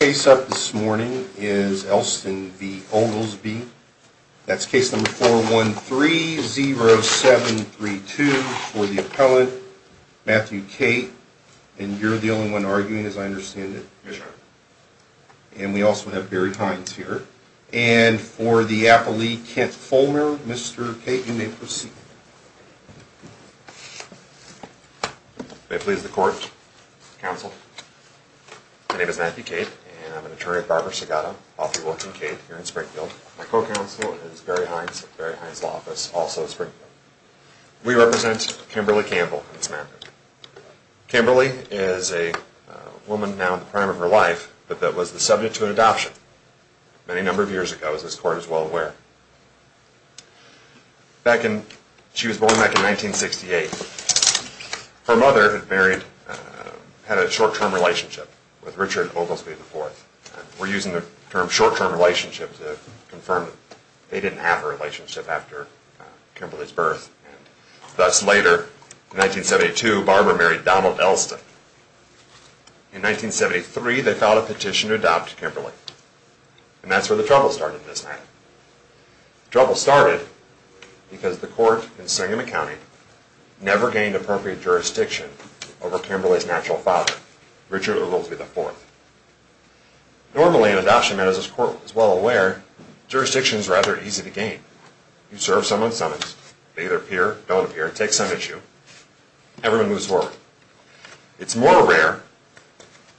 Case up this morning is Elston v. Oglesby. That's case number 413-0732 for the appellant, Matthew Cate, and you're the only one arguing as I understand it. Yes, sir. And we also have Barry Hines here. And for the appellee, Kent Fulmer, Mr. Cate, you may proceed. May it please the court, counsel. My name is Matthew Cate, and I'm an attorney at Barber-Segato. I often work in Cate here in Springfield. My co-counsel is Barry Hines, Barry Hines' law office, also in Springfield. We represent Kimberly Campbell in this matter. Kimberly is a woman now in the prime of her life that was the subject to an adoption many number of years ago, as this court is well aware. She was born back in 1968. Her mother had a short-term relationship with Richard Oglesby IV. We're using the term short-term relationship to confirm they didn't have a relationship after Kimberly's birth. And thus later, in 1972, Barber married Donald Elston. In 1973, they filed a petition to adopt Kimberly. And that's where the trouble started in this matter. The trouble started because the court in Syngman County never gained appropriate jurisdiction over Kimberly's natural father, Richard Oglesby IV. Normally in adoption matters, as this court is well aware, jurisdiction is rather easy to gain. You serve someone's summons, they either appear or don't appear, take some issue, everyone moves forward. It's more rare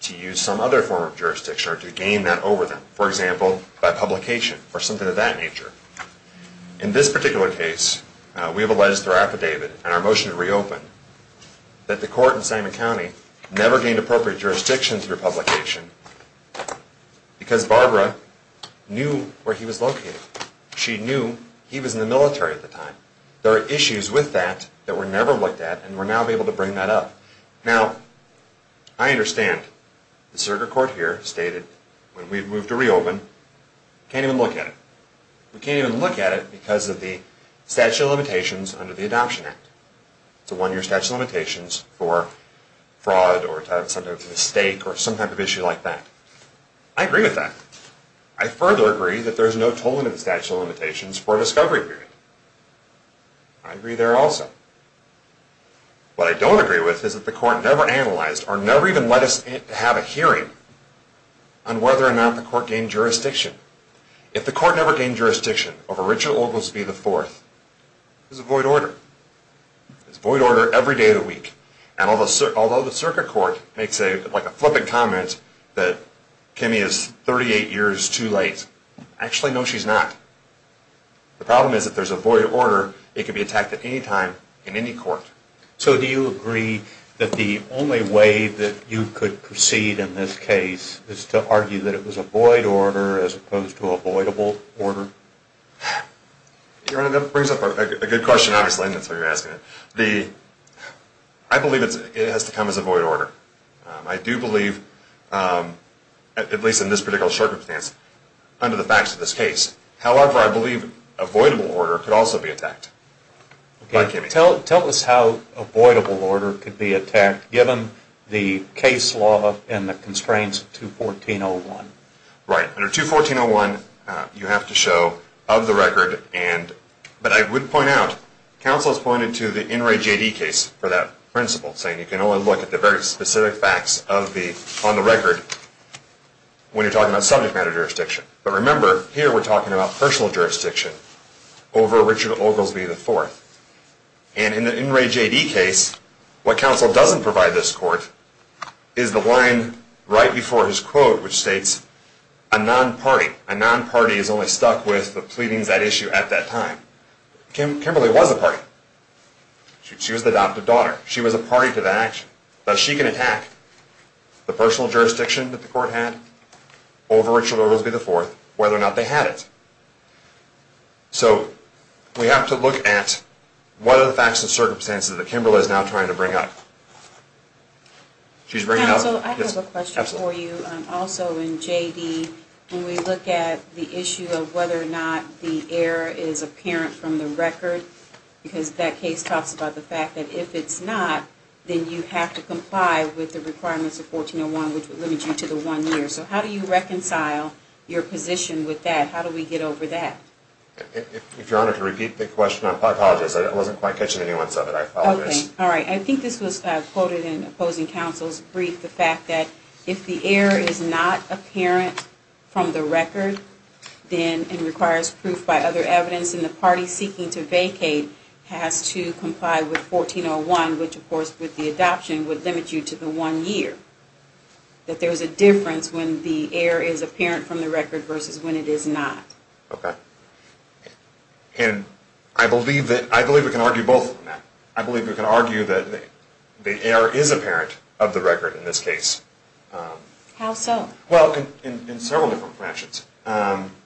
to use some other form of jurisdiction or to gain that over them. For example, by publication or something of that nature. In this particular case, we have a legislature affidavit and our motion to reopen that the court in Syngman County never gained appropriate jurisdiction through publication because Barbara knew where he was located. She knew he was in the military at the time. There are issues with that that were never looked at and we're now able to bring that up. Now, I understand the circuit court here stated, when we've moved to reopen, we can't even look at it. We can't even look at it because of the statute of limitations under the Adoption Act. It's a one-year statute of limitations for fraud or some type of mistake or some type of issue like that. I agree with that. I further agree that there's no tolling of the statute of limitations for a discovery period. I agree there also. What I don't agree with is that the court never analyzed or never even let us have a hearing on whether or not the court gained jurisdiction. If the court never gained jurisdiction over Richard Oglesby IV, it's a void order. It's a void order every day of the week. Although the circuit court makes a flippant comment that Kimmy is 38 years too late, actually, no, she's not. The problem is, if there's a void order, it can be attacked at any time in any court. So do you agree that the only way that you could proceed in this case is to argue that it was a void order as opposed to avoidable order? Your Honor, that brings up a good question, obviously, and that's why you're asking it. I believe it has to come as a void order. I do believe, at least in this particular circumstance, under the facts of this case. However, I believe avoidable order could also be attacked by Kimmy. Tell us how avoidable order could be attacked, given the case law and the constraints of 214.01. Right. Under 214.01, you have to show of the record, but I would point out, counsel has pointed to the NRAJD case for that principle, saying you can only look at the very specific facts on the record when you're talking about subject matter jurisdiction. But remember, here we're talking about personal jurisdiction over Richard Oglesby IV. And in the NRAJD case, what counsel doesn't provide this court is the line right before his quote, which states, a non-party, a non-party is only stuck with the pleadings at issue at that time. Kimberly was a party. She was the adoptive daughter. She was a party to the action. But she can attack the personal jurisdiction that the court had over Richard Oglesby IV, whether or not they had it. So we have to look at what are the facts and circumstances that Kimberly is now trying to bring up. Counsel, I have a question for you. Also in JD, when we look at the issue of whether or not the error is apparent from the record, because that case talks about the fact that if it's not, then you have to comply with the requirements of 1401, which would limit you to the one year. So how do you reconcile your position with that? How do we get over that? If Your Honor, to repeat the question, I apologize. I wasn't quite catching any once of it. I apologize. Okay. All right. I think this was quoted in opposing counsel's brief, the fact that if the error is not apparent from the record, then it requires proof by other evidence, and the party seeking to vacate has to comply with 1401, which of course with the adoption would limit you to the one year. That there is a difference when the error is apparent from the record versus when it is not. Okay. And I believe we can argue both of them. I believe we can argue that the error is apparent of the record in this case. How so? Well, in several different fashions.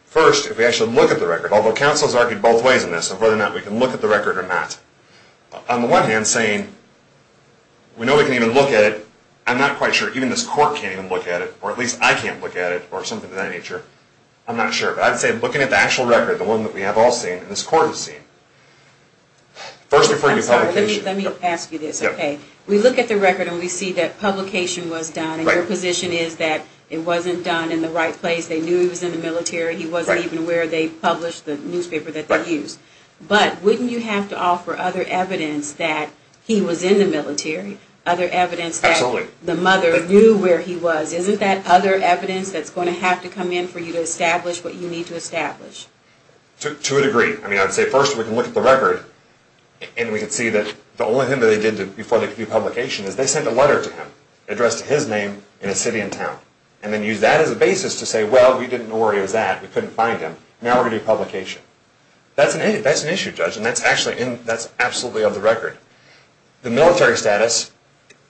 First, if we actually look at the record, although counsel has argued both ways in this on whether or not we can look at the record or not. On the one hand, saying we know we can even look at it. I'm not quite sure. Even this court can't even look at it, or at least I can't look at it, or something of that nature. I'm not sure. But I'd say looking at the actual record, the one that we have all seen and this court has seen. First, referring to publication. I'm sorry. Let me ask you this. Okay. We look at the record and we see that publication was done, and your position is that it wasn't done in the right place. They knew he was in the military. He wasn't even where they published the newspaper that they used. But wouldn't you have to offer other evidence that he was in the military? Other evidence that the mother knew where he was. Isn't that other evidence that's going to have to come in for you to establish what you need to establish? To a degree. I mean, I'd say first we can look at the record and we can see that the only thing that they did before they could do publication is they sent a letter to him addressed to his name in a city and town, and then used that as a basis to say, well, we didn't know where he was at. We couldn't find him. Now we're going to do publication. That's an issue, Judge, and that's absolutely of the record. The military status,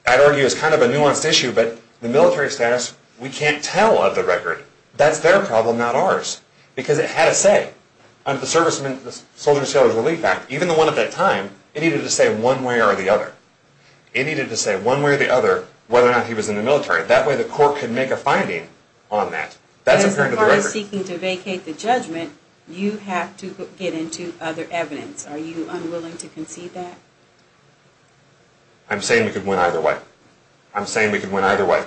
I'd argue, is kind of a nuanced issue, but the military status, we can't tell of the record. That's their problem, not ours, because it had a say. Under the Soldiers and Sailors Relief Act, even the one at that time, it needed to say one way or the other. It needed to say one way or the other whether or not he was in the military. That way the court could make a finding on that. As the court is seeking to vacate the judgment, you have to get into other evidence. Are you unwilling to concede that? I'm saying we could win either way. I'm saying we could win either way.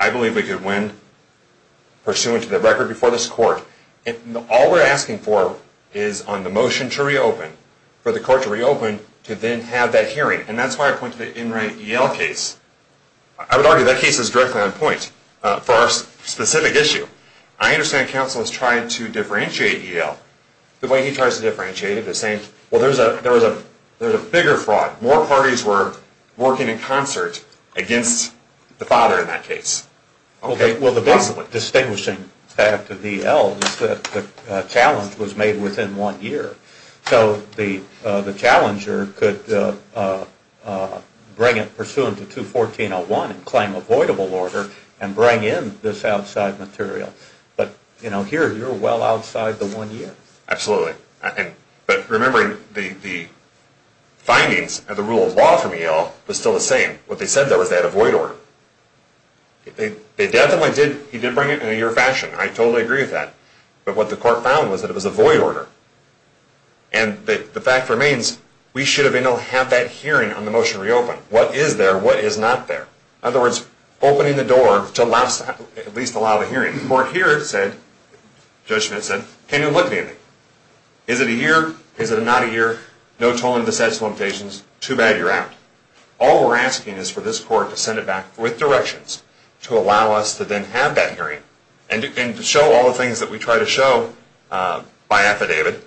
I believe we could win pursuant to the record before this court. All we're asking for is on the motion to reopen, for the court to reopen, to then have that hearing. That's why I pointed to the Enright E.L. case. I would argue that case is directly on point for our specific issue. I understand counsel has tried to differentiate E.L. The way he tries to differentiate it is saying, well, there was a bigger fraud. More parties were working in concert against the father in that case. Well, the basic distinguishing fact of E.L. is that the challenge was made within one year. So the challenger could bring it pursuant to 214.01 and claim avoidable order and bring in this outside material. But here you're well outside the one year. Absolutely. But remembering the findings of the rule of law from E.L. was still the same. What they said though is they had a void order. They definitely did bring it in a year fashion. I totally agree with that. But what the court found was that it was a void order. And the fact remains we should have been able to have that hearing on the motion to reopen. What is there? What is not there? In other words, opening the door to at least allow the hearing. The court here said, Judge Schmidt said, can you look at me? Is it a year? Is it not a year? No tolling of the sets of limitations. Too bad you're out. All we're asking is for this court to send it back with directions to allow us to then have that hearing and to show all the things that we try to show by affidavit,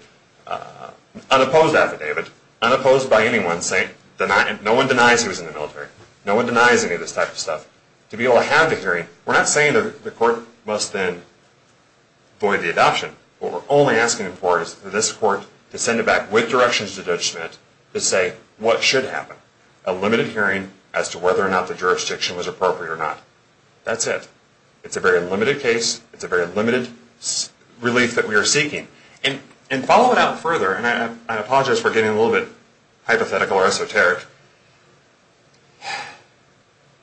unopposed affidavit, unopposed by anyone saying no one denies he was in the military. No one denies any of this type of stuff. To be able to have the hearing, we're not saying the court must then void the adoption. What we're only asking for is for this court to send it back with directions to Judge Schmidt to say what should happen, a limited hearing as to whether or not the jurisdiction was appropriate or not. That's it. It's a very limited case. It's a very limited relief that we are seeking. And following out further, and I apologize for getting a little bit hypothetical or esoteric,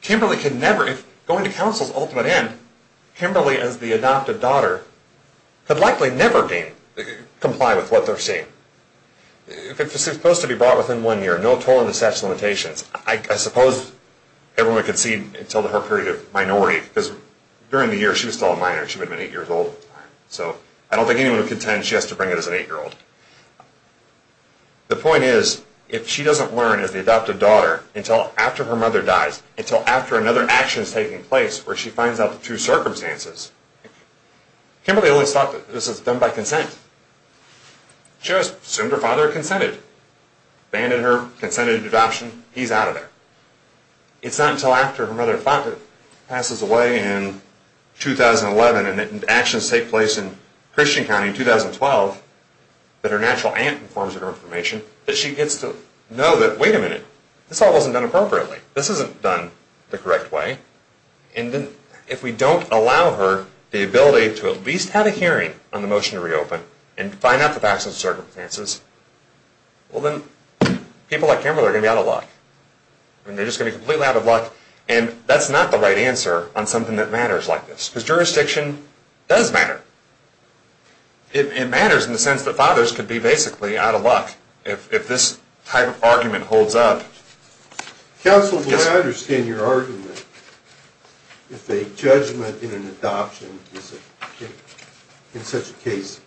Kimberly could never, if going to counsel's ultimate end, Kimberly as the adopted daughter could likely never comply with what they're saying. If it's supposed to be brought within one year, no toll on the statute of limitations, I suppose everyone would concede until her period of minority, because during the year she was still a minor. She would have been eight years old at the time. So I don't think anyone would contend she has to bring it as an eight-year-old. The point is, if she doesn't learn as the adopted daughter until after her mother dies, until after another action is taking place where she finds out the true circumstances, Kimberly always thought that this was done by consent. She always assumed her father consented. Abandoned her, consented to adoption, he's out of there. It's not until after her mother passes away in 2011 and actions take place in Christian County in 2012, that her natural aunt informs her of her information, that she gets to know that, wait a minute, this all wasn't done appropriately. This isn't done the correct way. If we don't allow her the ability to at least have a hearing on the motion to reopen and find out the facts and circumstances, well then people like Kimberly are going to be out of luck. They're just going to be completely out of luck. And that's not the right answer on something that matters like this, because jurisdiction does matter. It matters in the sense that fathers could be basically out of luck if this type of argument holds up. Counsel, do I understand your argument if a judgment in an adoption in such a case,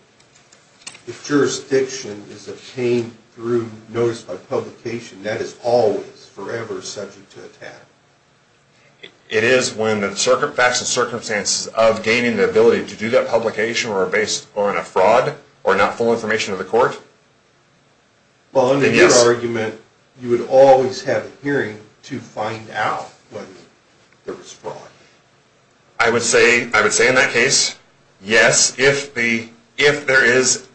if jurisdiction is obtained through notice by publication, that is always forever subject to attack? It is when the facts and circumstances of gaining the ability to do that publication are based on a fraud or not full information of the court? Well, under your argument, you would always have a hearing to find out whether there was fraud. I would say in that case, yes, if there is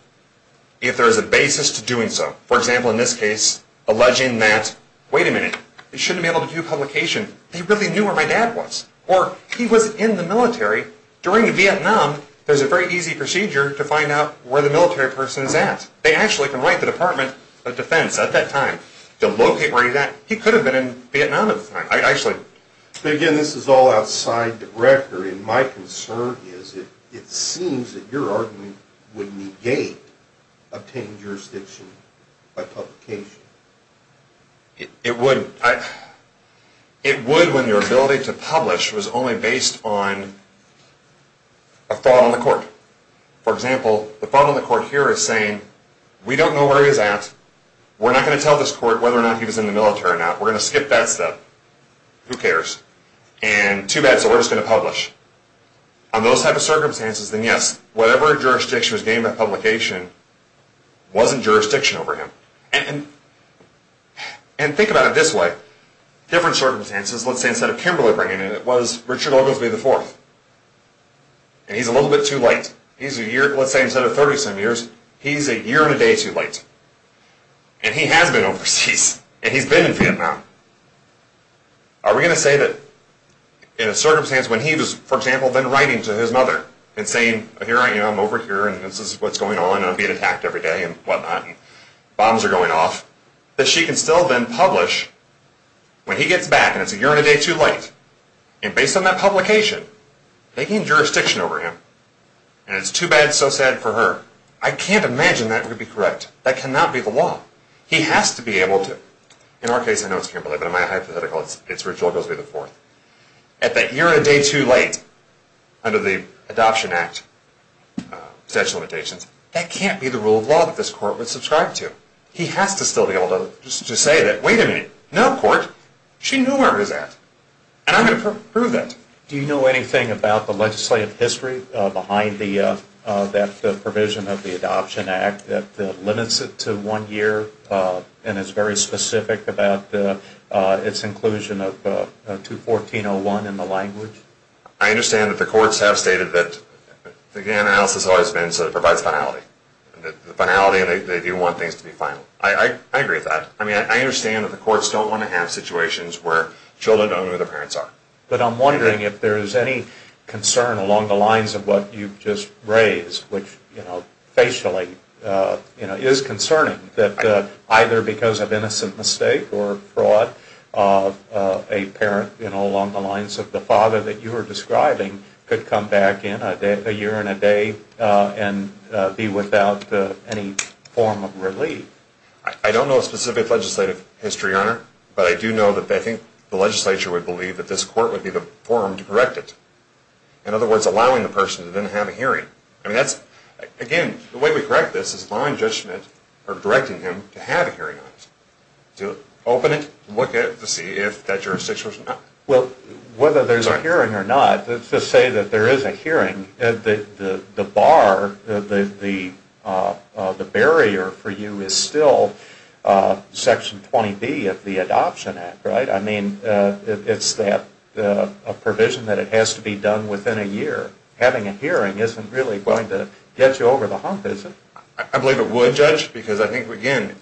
a basis to doing so. For example, in this case, alleging that, wait a minute, they shouldn't be able to do publication. They really knew where my dad was, or he was in the military. During Vietnam, there's a very easy procedure to find out where the military person is at. They actually can write the Department of Defense at that time to locate where he's at. He could have been in Vietnam at the time. Again, this is all outside the record, and my concern is it seems that your argument would negate obtaining jurisdiction by publication. It would when your ability to publish was only based on a fraud on the court. For example, the fraud on the court here is saying, we don't know where he's at. We're not going to tell this court whether or not he was in the military or not. We're going to skip that step. Who cares? And too bad, so we're just going to publish. On those type of circumstances, then yes, whatever jurisdiction was gained by publication wasn't jurisdiction over him. And think about it this way. Different circumstances, let's say instead of Kimberly bringing it, it was Richard Oglesby IV. And he's a little bit too late. Let's say instead of 30-some years, he's a year and a day too late. And he has been overseas, and he's been in Vietnam. Are we going to say that in a circumstance when he was, for example, then writing to his mother and saying, I'm over here, and this is what's going on, and I'm being attacked every day and whatnot, and bombs are going off, that she can still then publish when he gets back, and it's a year and a day too late. And based on that publication, taking jurisdiction over him, and it's too bad, so sad for her, I can't imagine that would be correct. That cannot be the law. He has to be able to. In our case, I know it's Kimberly, but in my hypothetical, it's Richard Oglesby IV. At that year and a day too late, under the Adoption Act statute of limitations, that can't be the rule of law that this court would subscribe to. He has to still be able to say that, no court. She knew where it was at. And I'm going to prove that. Do you know anything about the legislative history behind that provision of the Adoption Act that limits it to one year and is very specific about its inclusion of 214.01 in the language? I understand that the courts have stated that the analysis has always been so that it provides finality. The finality, they do want things to be final. I agree with that. I understand that the courts don't want to have situations where children don't know who their parents are. But I'm wondering if there is any concern along the lines of what you've just raised, which facially is concerning, that either because of innocent mistake or fraud, a parent along the lines of the father that you were describing could come back in a year and a day and be without any form of relief. I don't know a specific legislative history, Your Honor. But I do know that I think the legislature would believe that this court would be the forum to correct it. In other words, allowing the person to then have a hearing. Again, the way we correct this is allowing judgment or directing him to have a hearing on it. To open it and look at it to see if that jurisdiction was not. to say that there is a hearing, the bar, the barrier for you is still Section 20B of the Adoption Act, right? I mean, it's a provision that it has to be done within a year. Having a hearing isn't really going to get you over the hump, is it? I believe it would, Judge, because I think, again,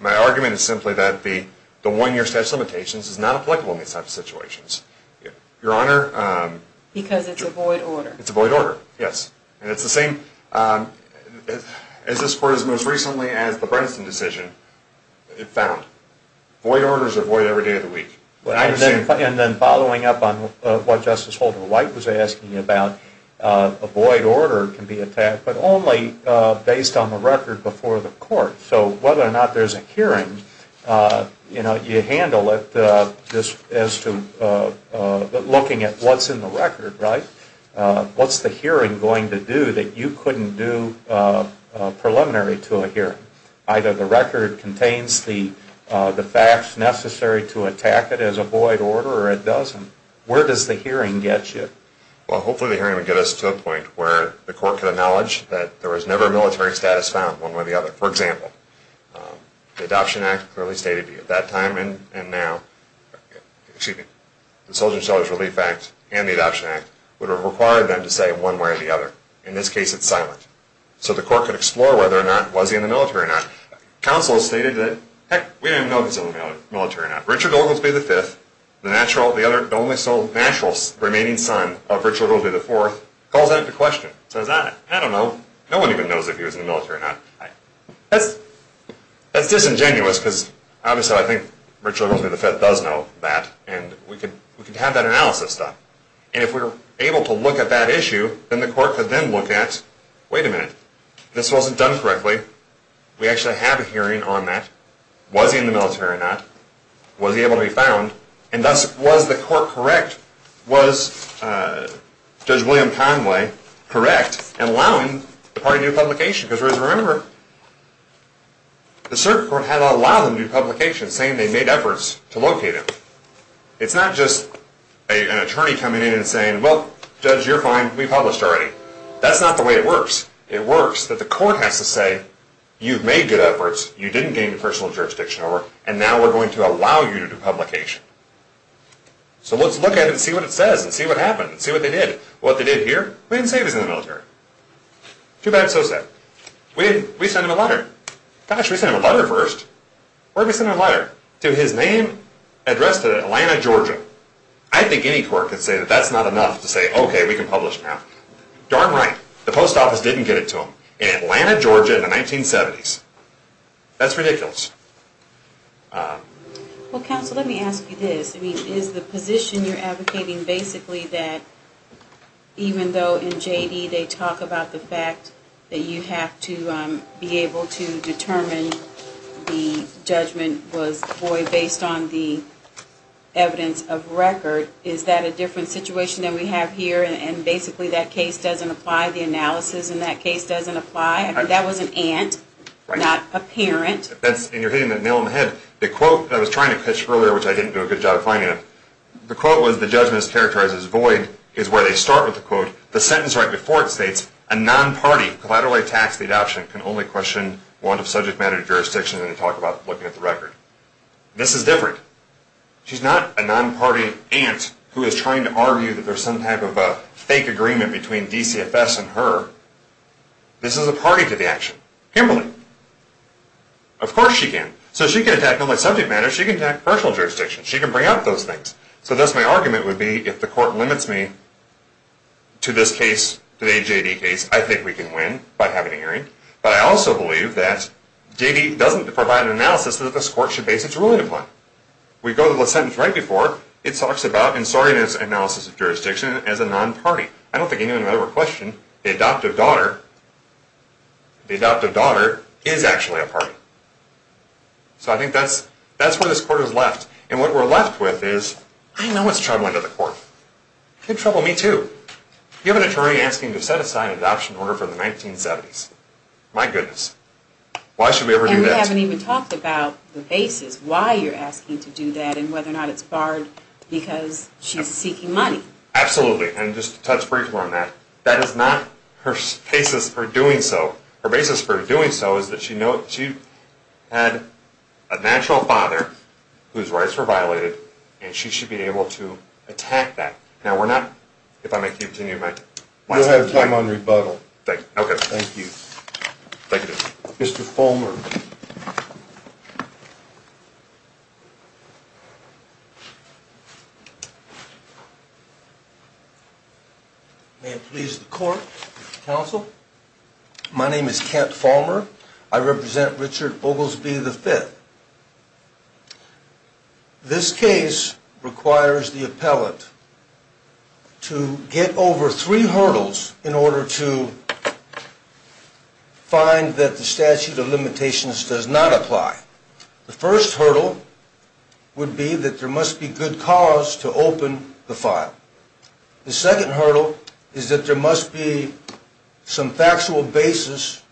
my argument is simply that the one-year statute of limitations is not applicable in these types of situations. Your Honor? Because it's a void order. It's a void order, yes. And it's the same, as this court has most recently, as the Bredesen decision, it found. Void orders are void every day of the week. And then following up on what Justice Holder-White was asking you about, a void order can be attacked, but only based on the record before the court. So whether or not there's a hearing, you handle it as to looking at what's in the record, right? What's the hearing going to do that you couldn't do preliminary to a hearing? Either the record contains the facts necessary to attack it as a void order, or it doesn't. Where does the hearing get you? Well, hopefully the hearing would get us to a point where the court could acknowledge that there was never a military status found, one way or the other. For example, the Adoption Act clearly stated that at that time and now, excuse me, the Soldiers and Sellers Relief Act and the Adoption Act would have required them to say one way or the other. In this case, it's silent. So the court could explore whether or not, was he in the military or not. Counsel stated that, heck, we didn't even know if he was in the military or not. Richard Oglesby V, the only sole natural remaining son of Richard Oglesby IV, calls that into question. Says, I don't know. No one even knows if he was in the military or not. That's disingenuous, because obviously I think Richard Oglesby V does know that, and we could have that analysis done. And if we were able to look at that issue, then the court could then look at, wait a minute, this wasn't done correctly. We actually have a hearing on that. Was he in the military or not? Was he able to be found? And thus, was the court correct? Was Judge William Conway correct in allowing the party to do publication? Because remember, the circuit court had to allow them to do publication, saying they made efforts to locate him. It's not just an attorney coming in and saying, well, Judge, you're fine, we published already. That's not the way it works. It works that the court has to say, you've made good efforts, you didn't gain the personal jurisdiction over, and now we're going to allow you to do publication. So let's look at it and see what it says, and see what happened, and see what they did. What they did here? We didn't say he was in the military. Too bad, so sad. We sent him a letter. Gosh, we sent him a letter first. Where did we send him a letter? To his name addressed to Atlanta, Georgia. I think any court could say that that's not enough to say, okay, we can publish now. Darn right. The post office didn't get it to him. In Atlanta, Georgia in the 1970s. That's ridiculous. Well, counsel, let me ask you this. Is the position you're advocating basically that even though in J.D. they talk about the fact that you have to be able to determine the judgment was void based on the evidence of record, is that a different situation than we have here, and basically that case doesn't apply? The analysis in that case doesn't apply? I mean, that was an aunt, not a parent. And you're hitting the nail on the head. The quote that I was trying to pitch earlier, which I didn't do a good job of finding it, the quote was the judgment is characterized as void, is where they start with the quote. The sentence right before it states, a non-party who collaterally attacks the adoption can only question one of subject matter jurisdictions, and they talk about looking at the record. This is different. She's not a non-party aunt who is trying to argue that there's some type of a fake agreement between DCFS and her. This is a party to the action. Kimberly. Of course she can. So she can attack not only subject matter, she can attack personal jurisdiction. She can bring up those things. So thus my argument would be, if the court limits me to this case, today's JD case, I think we can win by having a hearing. But I also believe that JD doesn't provide an analysis that this court should base its ruling upon. We go to the sentence right before. It talks about insolvency analysis of jurisdiction as a non-party. I don't think anyone would question the adoptive daughter. The adoptive daughter is actually a party. So I think that's where this court is left. And what we're left with is, I know what's troubling the court. It could trouble me too. You have an attorney asking to set aside an adoption order for the 1970s. My goodness. Why should we ever do that? And we haven't even talked about the basis, why you're asking to do that, and whether or not it's barred because she's seeking money. Absolutely. And just to touch briefly on that, that is not her basis for doing so. Her basis for doing so is that she had a natural father whose rights were violated, and she should be able to attack that. Now, we're not, if I may continue. You'll have time on rebuttal. Okay. Thank you. Thank you. Mr. Fulmer. May it please the court, counsel. My name is Kent Fulmer. I represent Richard Oglesby V. This case requires the appellate to get over three hurdles in order to find that the statute of limitations does not apply. The first hurdle would be that there must be good cause to open the file. The second hurdle is that there must be some factual basis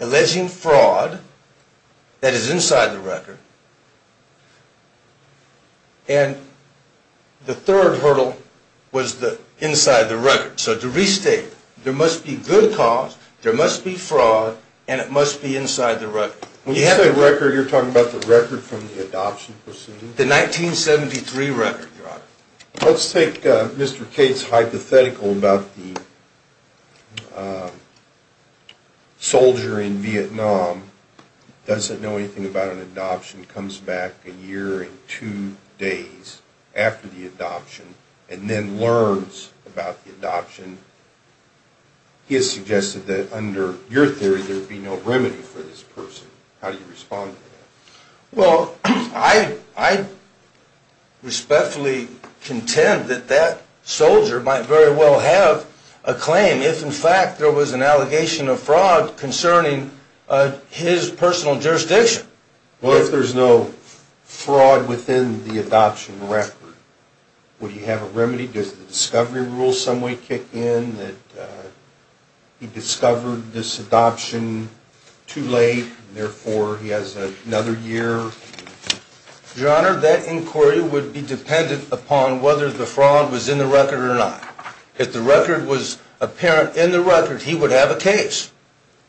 alleging fraud that is inside the record. And the third hurdle was inside the record. So to restate, there must be good cause, there must be fraud, and it must be inside the record. When you say record, you're talking about the record from the adoption proceeding? The 1973 record, Your Honor. Let's take Mr. Cates' hypothetical about the soldier in Vietnam, doesn't know anything about an adoption, comes back a year and two days after the adoption, and then learns about the adoption. He has suggested that under your theory there would be no remedy for this person. How do you respond to that? Well, I respectfully contend that that soldier might very well have a claim if, in fact, there was an allegation of fraud concerning his personal jurisdiction. Well, if there's no fraud within the adoption record, would he have a remedy? Does the discovery rule some way kick in that he discovered this adoption too late, and therefore he has another year? Your Honor, that inquiry would be dependent upon whether the fraud was in the record or not. If the record was apparent in the record, he would have a case.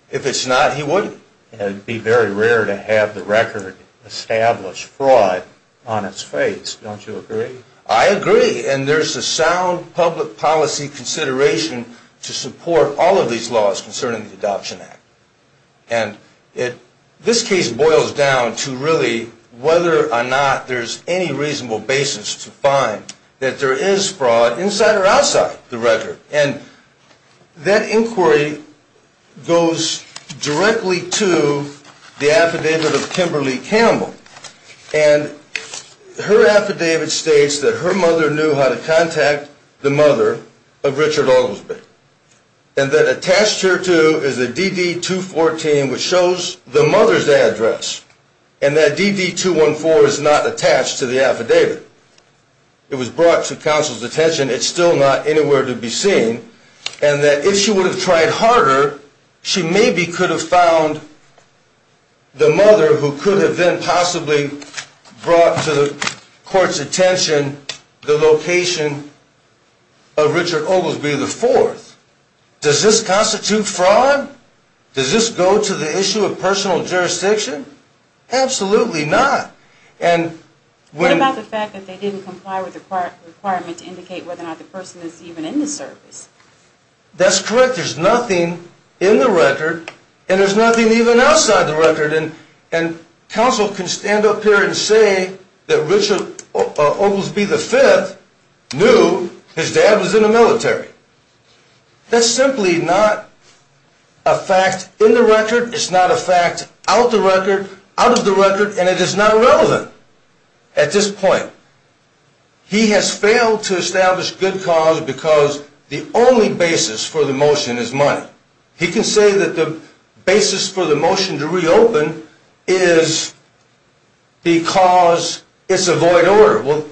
If it's not, he wouldn't. It would be very rare to have the record establish fraud on its face. Don't you agree? I agree. And there's a sound public policy consideration to support all of these laws concerning the Adoption Act. And this case boils down to really whether or not there's any reasonable basis to find that there is fraud inside or outside the record. And that inquiry goes directly to the affidavit of Kimberly Campbell. And her affidavit states that her mother knew how to contact the mother of Richard Oglesby. And that attached here to is a DD-214, which shows the mother's address, and that DD-214 is not attached to the affidavit. It was brought to counsel's attention. It's still not anywhere to be seen. And that if she would have tried harder, she maybe could have found the mother who could have then possibly brought to the court's attention the location of Richard Oglesby IV. Does this constitute fraud? Does this go to the issue of personal jurisdiction? Absolutely not. What about the fact that they didn't comply with the requirement to indicate whether or not the person is even in the service? That's correct. There's nothing in the record, and there's nothing even outside the record. And counsel can stand up here and say that Richard Oglesby V knew his dad was in the military. That's simply not a fact in the record. It's not a fact out of the record. And it is not relevant at this point. He has failed to establish good cause because the only basis for the motion is money. He can say that the basis for the motion to reopen is because it's a void order. Well,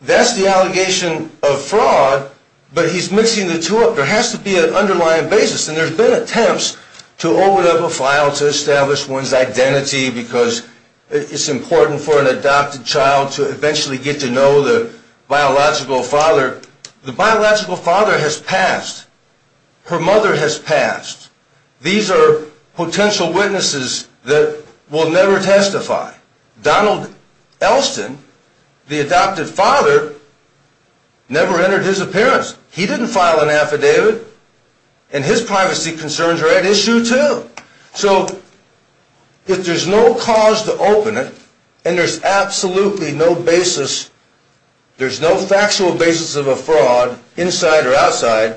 that's the allegation of fraud, but he's mixing the two up. There has to be an underlying basis, and there have been attempts to It's important for an adopted child to eventually get to know the biological father. The biological father has passed. Her mother has passed. These are potential witnesses that will never testify. Donald Elston, the adopted father, never entered his appearance. He didn't file an affidavit, and his privacy concerns are at issue too. So if there's no cause to open it, and there's absolutely no basis, there's no factual basis of a fraud inside or outside,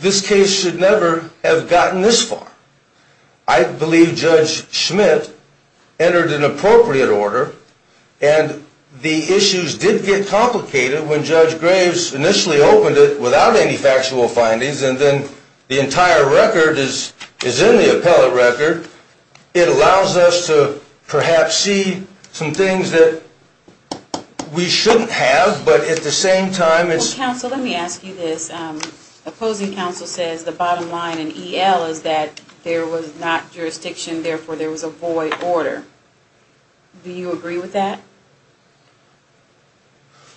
this case should never have gotten this far. I believe Judge Schmidt entered an appropriate order, and the issues did get complicated when Judge Graves initially opened it without any factual findings, and then the entire record is in the appellate record. It allows us to perhaps see some things that we shouldn't have, but at the same time it's Well, counsel, let me ask you this. Opposing counsel says the bottom line in EL is that there was not jurisdiction, therefore there was a void order. Do you agree with that?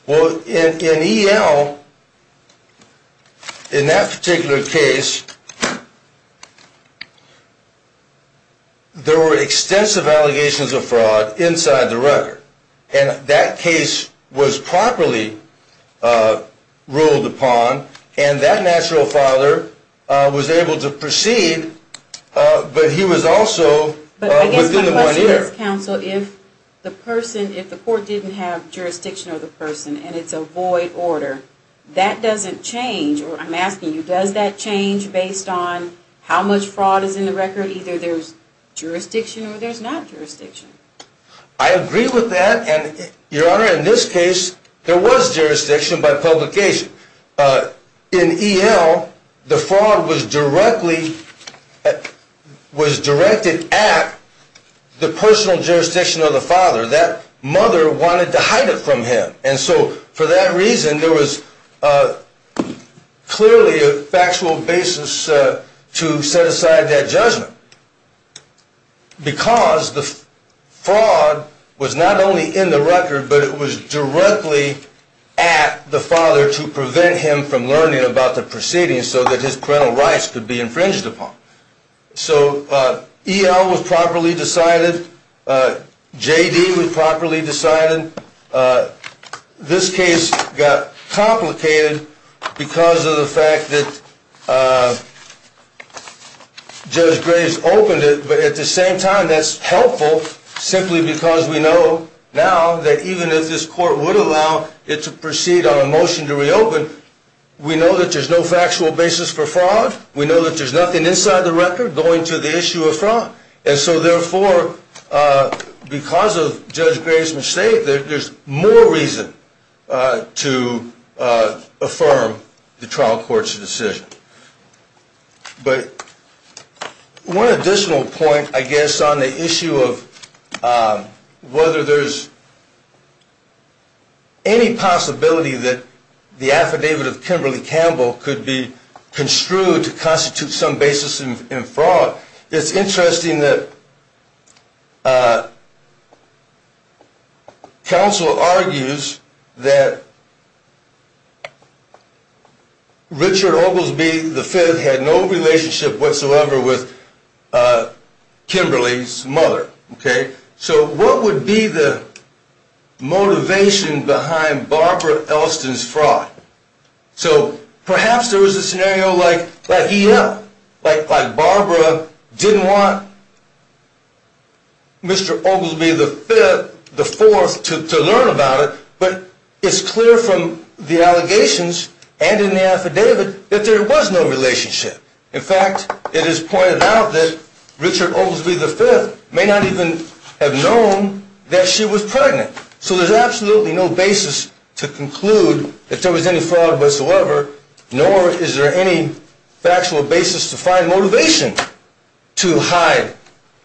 Well, in EL, in that particular case, there were extensive allegations of fraud inside the record, and that case was properly ruled upon, and that natural father was able to proceed, but he was also within the one year. Counsel, if the court didn't have jurisdiction of the person, and it's a void order, that doesn't change, or I'm asking you, does that change based on how much fraud is in the record? Either there's jurisdiction or there's not jurisdiction. I agree with that, and your honor, in this case, there was jurisdiction by publication. In EL, the fraud was directed at the personal jurisdiction of the father. That mother wanted to hide it from him, and so for that reason, there was clearly a factual basis to set aside that judgment, because the fraud was not only in the record, but it was directly at the father to prevent him from learning about the proceedings so that his parental rights could be infringed upon. So EL was properly decided. JD was properly decided. This case got complicated because of the fact that Judge Graves opened it, but at the same time, that's helpful simply because we know now that even if this court would allow it to proceed on a motion to reopen, we know that there's no factual basis for fraud, we know that there's nothing inside the record going to the issue of fraud, and so therefore, because of Judge Graves' mistake, there's more reason to affirm the trial court's decision. But one additional point, I guess, on the issue of whether there's any possibility that the affidavit of Kimberly Campbell could be construed to constitute some basis in fraud, it's interesting that counsel argues that Richard Oglesby V had no relationship whatsoever with Kimberly's mother. So what would be the motivation behind Barbara Elston's fraud? So perhaps there was a scenario like, yeah, Barbara didn't want Mr. Oglesby V, the fourth, to learn about it, but it's clear from the allegations and in the affidavit that there was no relationship. In fact, it is pointed out that Richard Oglesby V may not even have known that she was pregnant. So there's absolutely no basis to conclude that there was any fraud whatsoever, nor is there any factual basis to find motivation to hide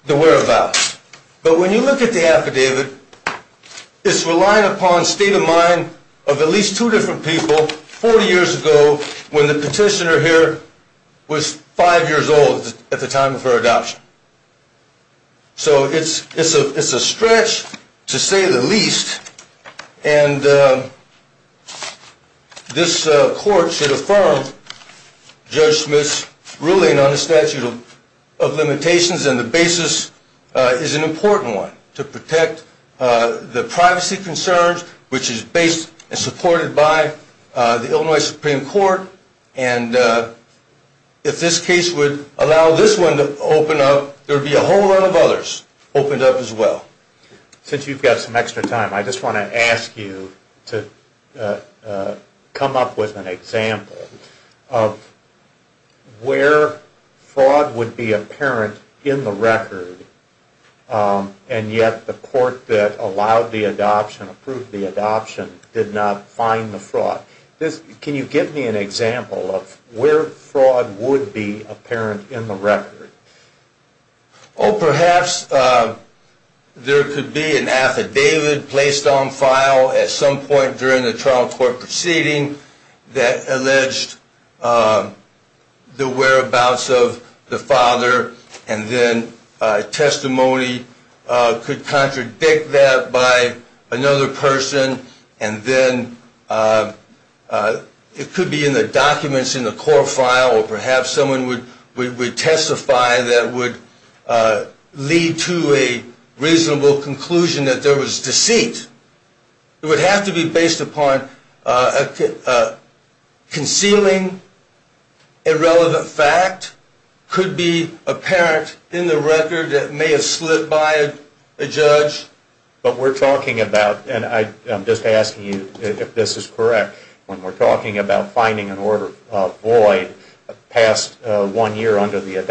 the whereabouts. But when you look at the affidavit, it's relying upon state of mind of at least two different people 40 years ago when the petitioner here was five years old at the time of her adoption. So it's a stretch, to say the least, and this court should affirm Judge Oglesby V is an important one to protect the privacy concerns, which is based and supported by the Illinois Supreme Court. And if this case would allow this one to open up, there would be a whole lot of others opened up as well. Since you've got some extra time, I just want to ask you to come up with an example of where fraud would be apparent in the record, and yet the court that allowed the adoption, approved the adoption, did not find the fraud. Can you give me an example of where fraud would be apparent in the record? Perhaps there could be an affidavit placed on file at some point during the whereabouts of the father, and then testimony could contradict that by another person, and then it could be in the documents in the court file, or perhaps someone would testify that would lead to a reasonable conclusion that there was deceit. It would have to be based upon concealing a relevant fact could be apparent in the record that may have slipped by a judge. But we're talking about, and I'm just asking you if this is correct, when we're talking about finding an order of void past one year under the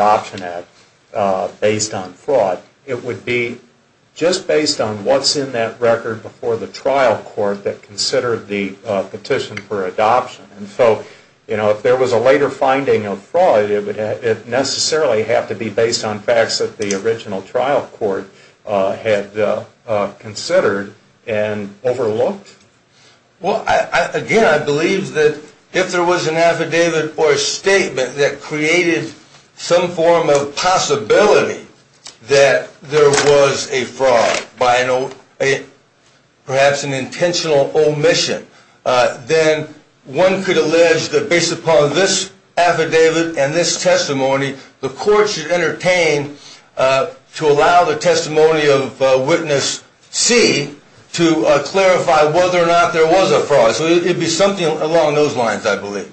trial court that considered the petition for adoption. And so if there was a later finding of fraud, it would necessarily have to be based on facts that the original trial court had considered and overlooked? Well, again, I believe that if there was an affidavit or a statement that perhaps an intentional omission, then one could allege that based upon this affidavit and this testimony, the court should entertain to allow the testimony of witness C to clarify whether or not there was a fraud. So it would be something along those lines, I believe.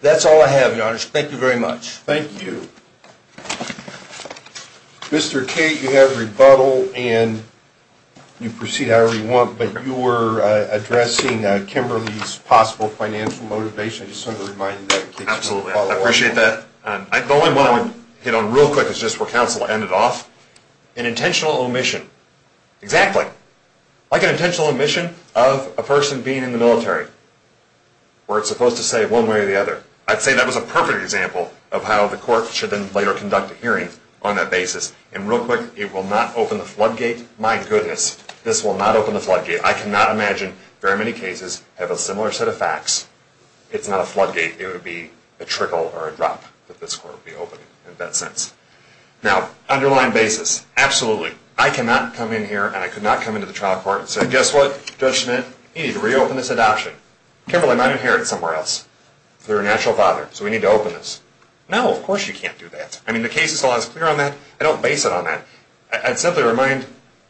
That's all I have, Your Honor. Thank you very much. Thank you. Mr. Cate, you have rebuttal, and you proceed however you want. But you were addressing Kimberly's possible financial motivation. I just wanted to remind you that. Absolutely. I appreciate that. The only one I want to hit on real quick is just where counsel ended off. An intentional omission. Exactly. Like an intentional omission of a person being in the military, where it's supposed to say one way or the other. I'd say that was a perfect example of how the court should then later conduct a hearing on that basis. And real quick, it will not open the floodgate. My goodness, this will not open the floodgate. I cannot imagine very many cases have a similar set of facts. It's not a floodgate. It would be a trickle or a drop that this court would be opening in that sense. Now, underlying basis. Absolutely. I cannot come in here, and I could not come into the trial court and say, guess what, Judge Schmidt, you need to reopen this adoption. Kimberly might inherit somewhere else. They're a natural father, so we need to open this. No, of course you can't do that. I mean, the case is always clear on that. I don't base it on that. I'd simply remind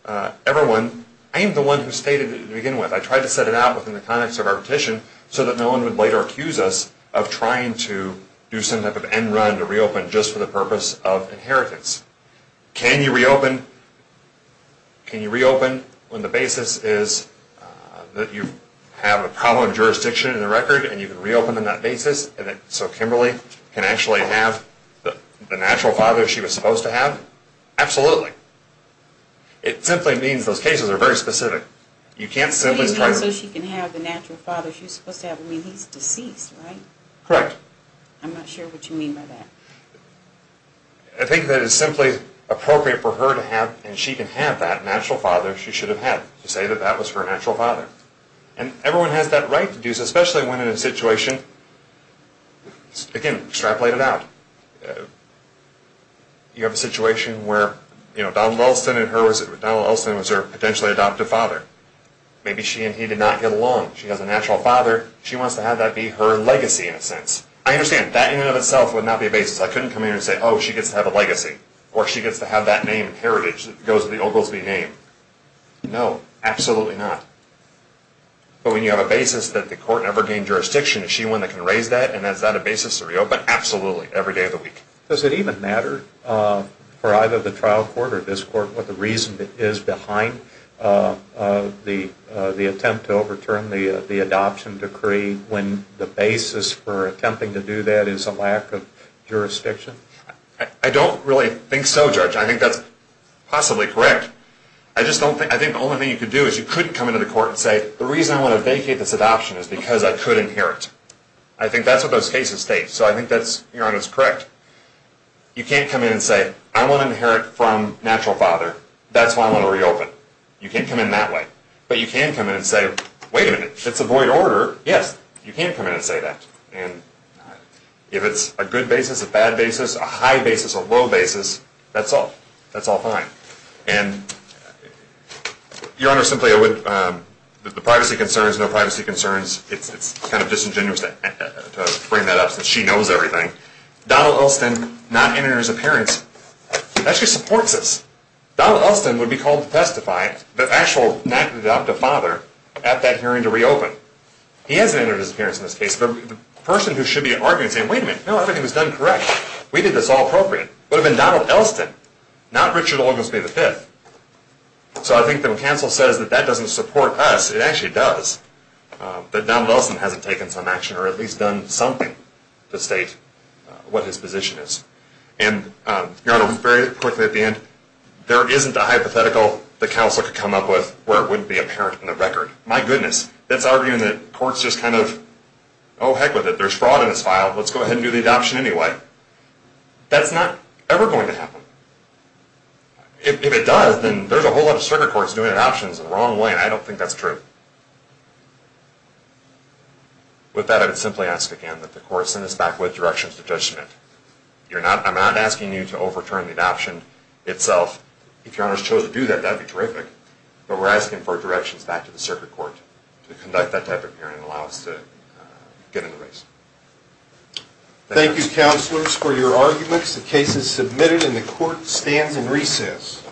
everyone, I am the one who stated it to begin with. I tried to set it out within the context of our petition so that no one would later accuse us of trying to do some type of end run to reopen just for the purpose of inheritance. Can you reopen? Can you reopen when the basis is that you have a problem with jurisdiction and the record, and you can reopen on that basis so Kimberly can actually have the natural father she was supposed to have? Absolutely. It simply means those cases are very specific. You can't simply try to. What do you mean so she can have the natural father she's supposed to have? I mean, he's deceased, right? Correct. I'm not sure what you mean by that. I think that it's simply appropriate for her to have, and she can have, that natural father she should have had to say that that was her natural father. And everyone has that right to do so, especially when in a situation, again, extrapolate it out. You have a situation where Donald Elston and her, Donald Elston was her potentially adoptive father. Maybe she and he did not get along. She has a natural father. She wants to have that be her legacy in a sense. I understand that in and of itself would not be a basis. I couldn't come in here and say, oh, she gets to have a legacy, or she gets to have that name and heritage that goes with the Oglesby name. No, absolutely not. But when you have a basis that the court never gained jurisdiction, is she one that can raise that, and is that a basis? But absolutely, every day of the week. Does it even matter for either the trial court or this court what the reason is behind the attempt to overturn the adoption decree when the basis for attempting to do that is a lack of jurisdiction? I don't really think so, Judge. I think that's possibly correct. I think the only thing you could do is you couldn't come into the court and say, the reason I want to vacate this adoption is because I could inherit. I think that's what those cases state, so I think that's correct. You can't come in and say, I want to inherit from natural father. That's why I want to reopen. You can't come in that way. But you can come in and say, wait a minute, it's a void order. Yes, you can come in and say that. And if it's a good basis, a bad basis, a high basis, a low basis, that's all. That's all fine. And Your Honor, simply, the privacy concerns, no privacy concerns, it's kind of disingenuous to bring that up since she knows everything. Donald Elston not entering his appearance actually supports this. Donald Elston would be called to testify, the actual natural adoptive father, at that hearing to reopen. He hasn't entered his appearance in this case. The person who should be arguing and saying, wait a minute, no, everything was done correct. We did this all appropriate. It would have been Donald Elston, not Richard Oglesby V. So I think that when counsel says that that doesn't support us, it actually does, that Donald Elston hasn't taken some action or at least done something to state what his position is. And Your Honor, very quickly at the end, there isn't a hypothetical that counsel could come up with where it wouldn't be apparent in the record. My goodness, that's arguing that court's just kind of, oh, heck with it, there's fraud in this file, let's go ahead and do the adoption anyway. That's not ever going to happen. If it does, then there's a whole lot of circuit courts doing adoptions the wrong way, and I don't think that's true. With that, I would simply ask again that the court send us back with directions to Judge Schmidt. I'm not asking you to overturn the adoption itself. If Your Honor has chosen to do that, that would be terrific. But we're asking for directions back to the circuit court to conduct that type of hearing and allow us to get in the race. Thank you, counselors, for your arguments. The case is submitted and the court stands in recess.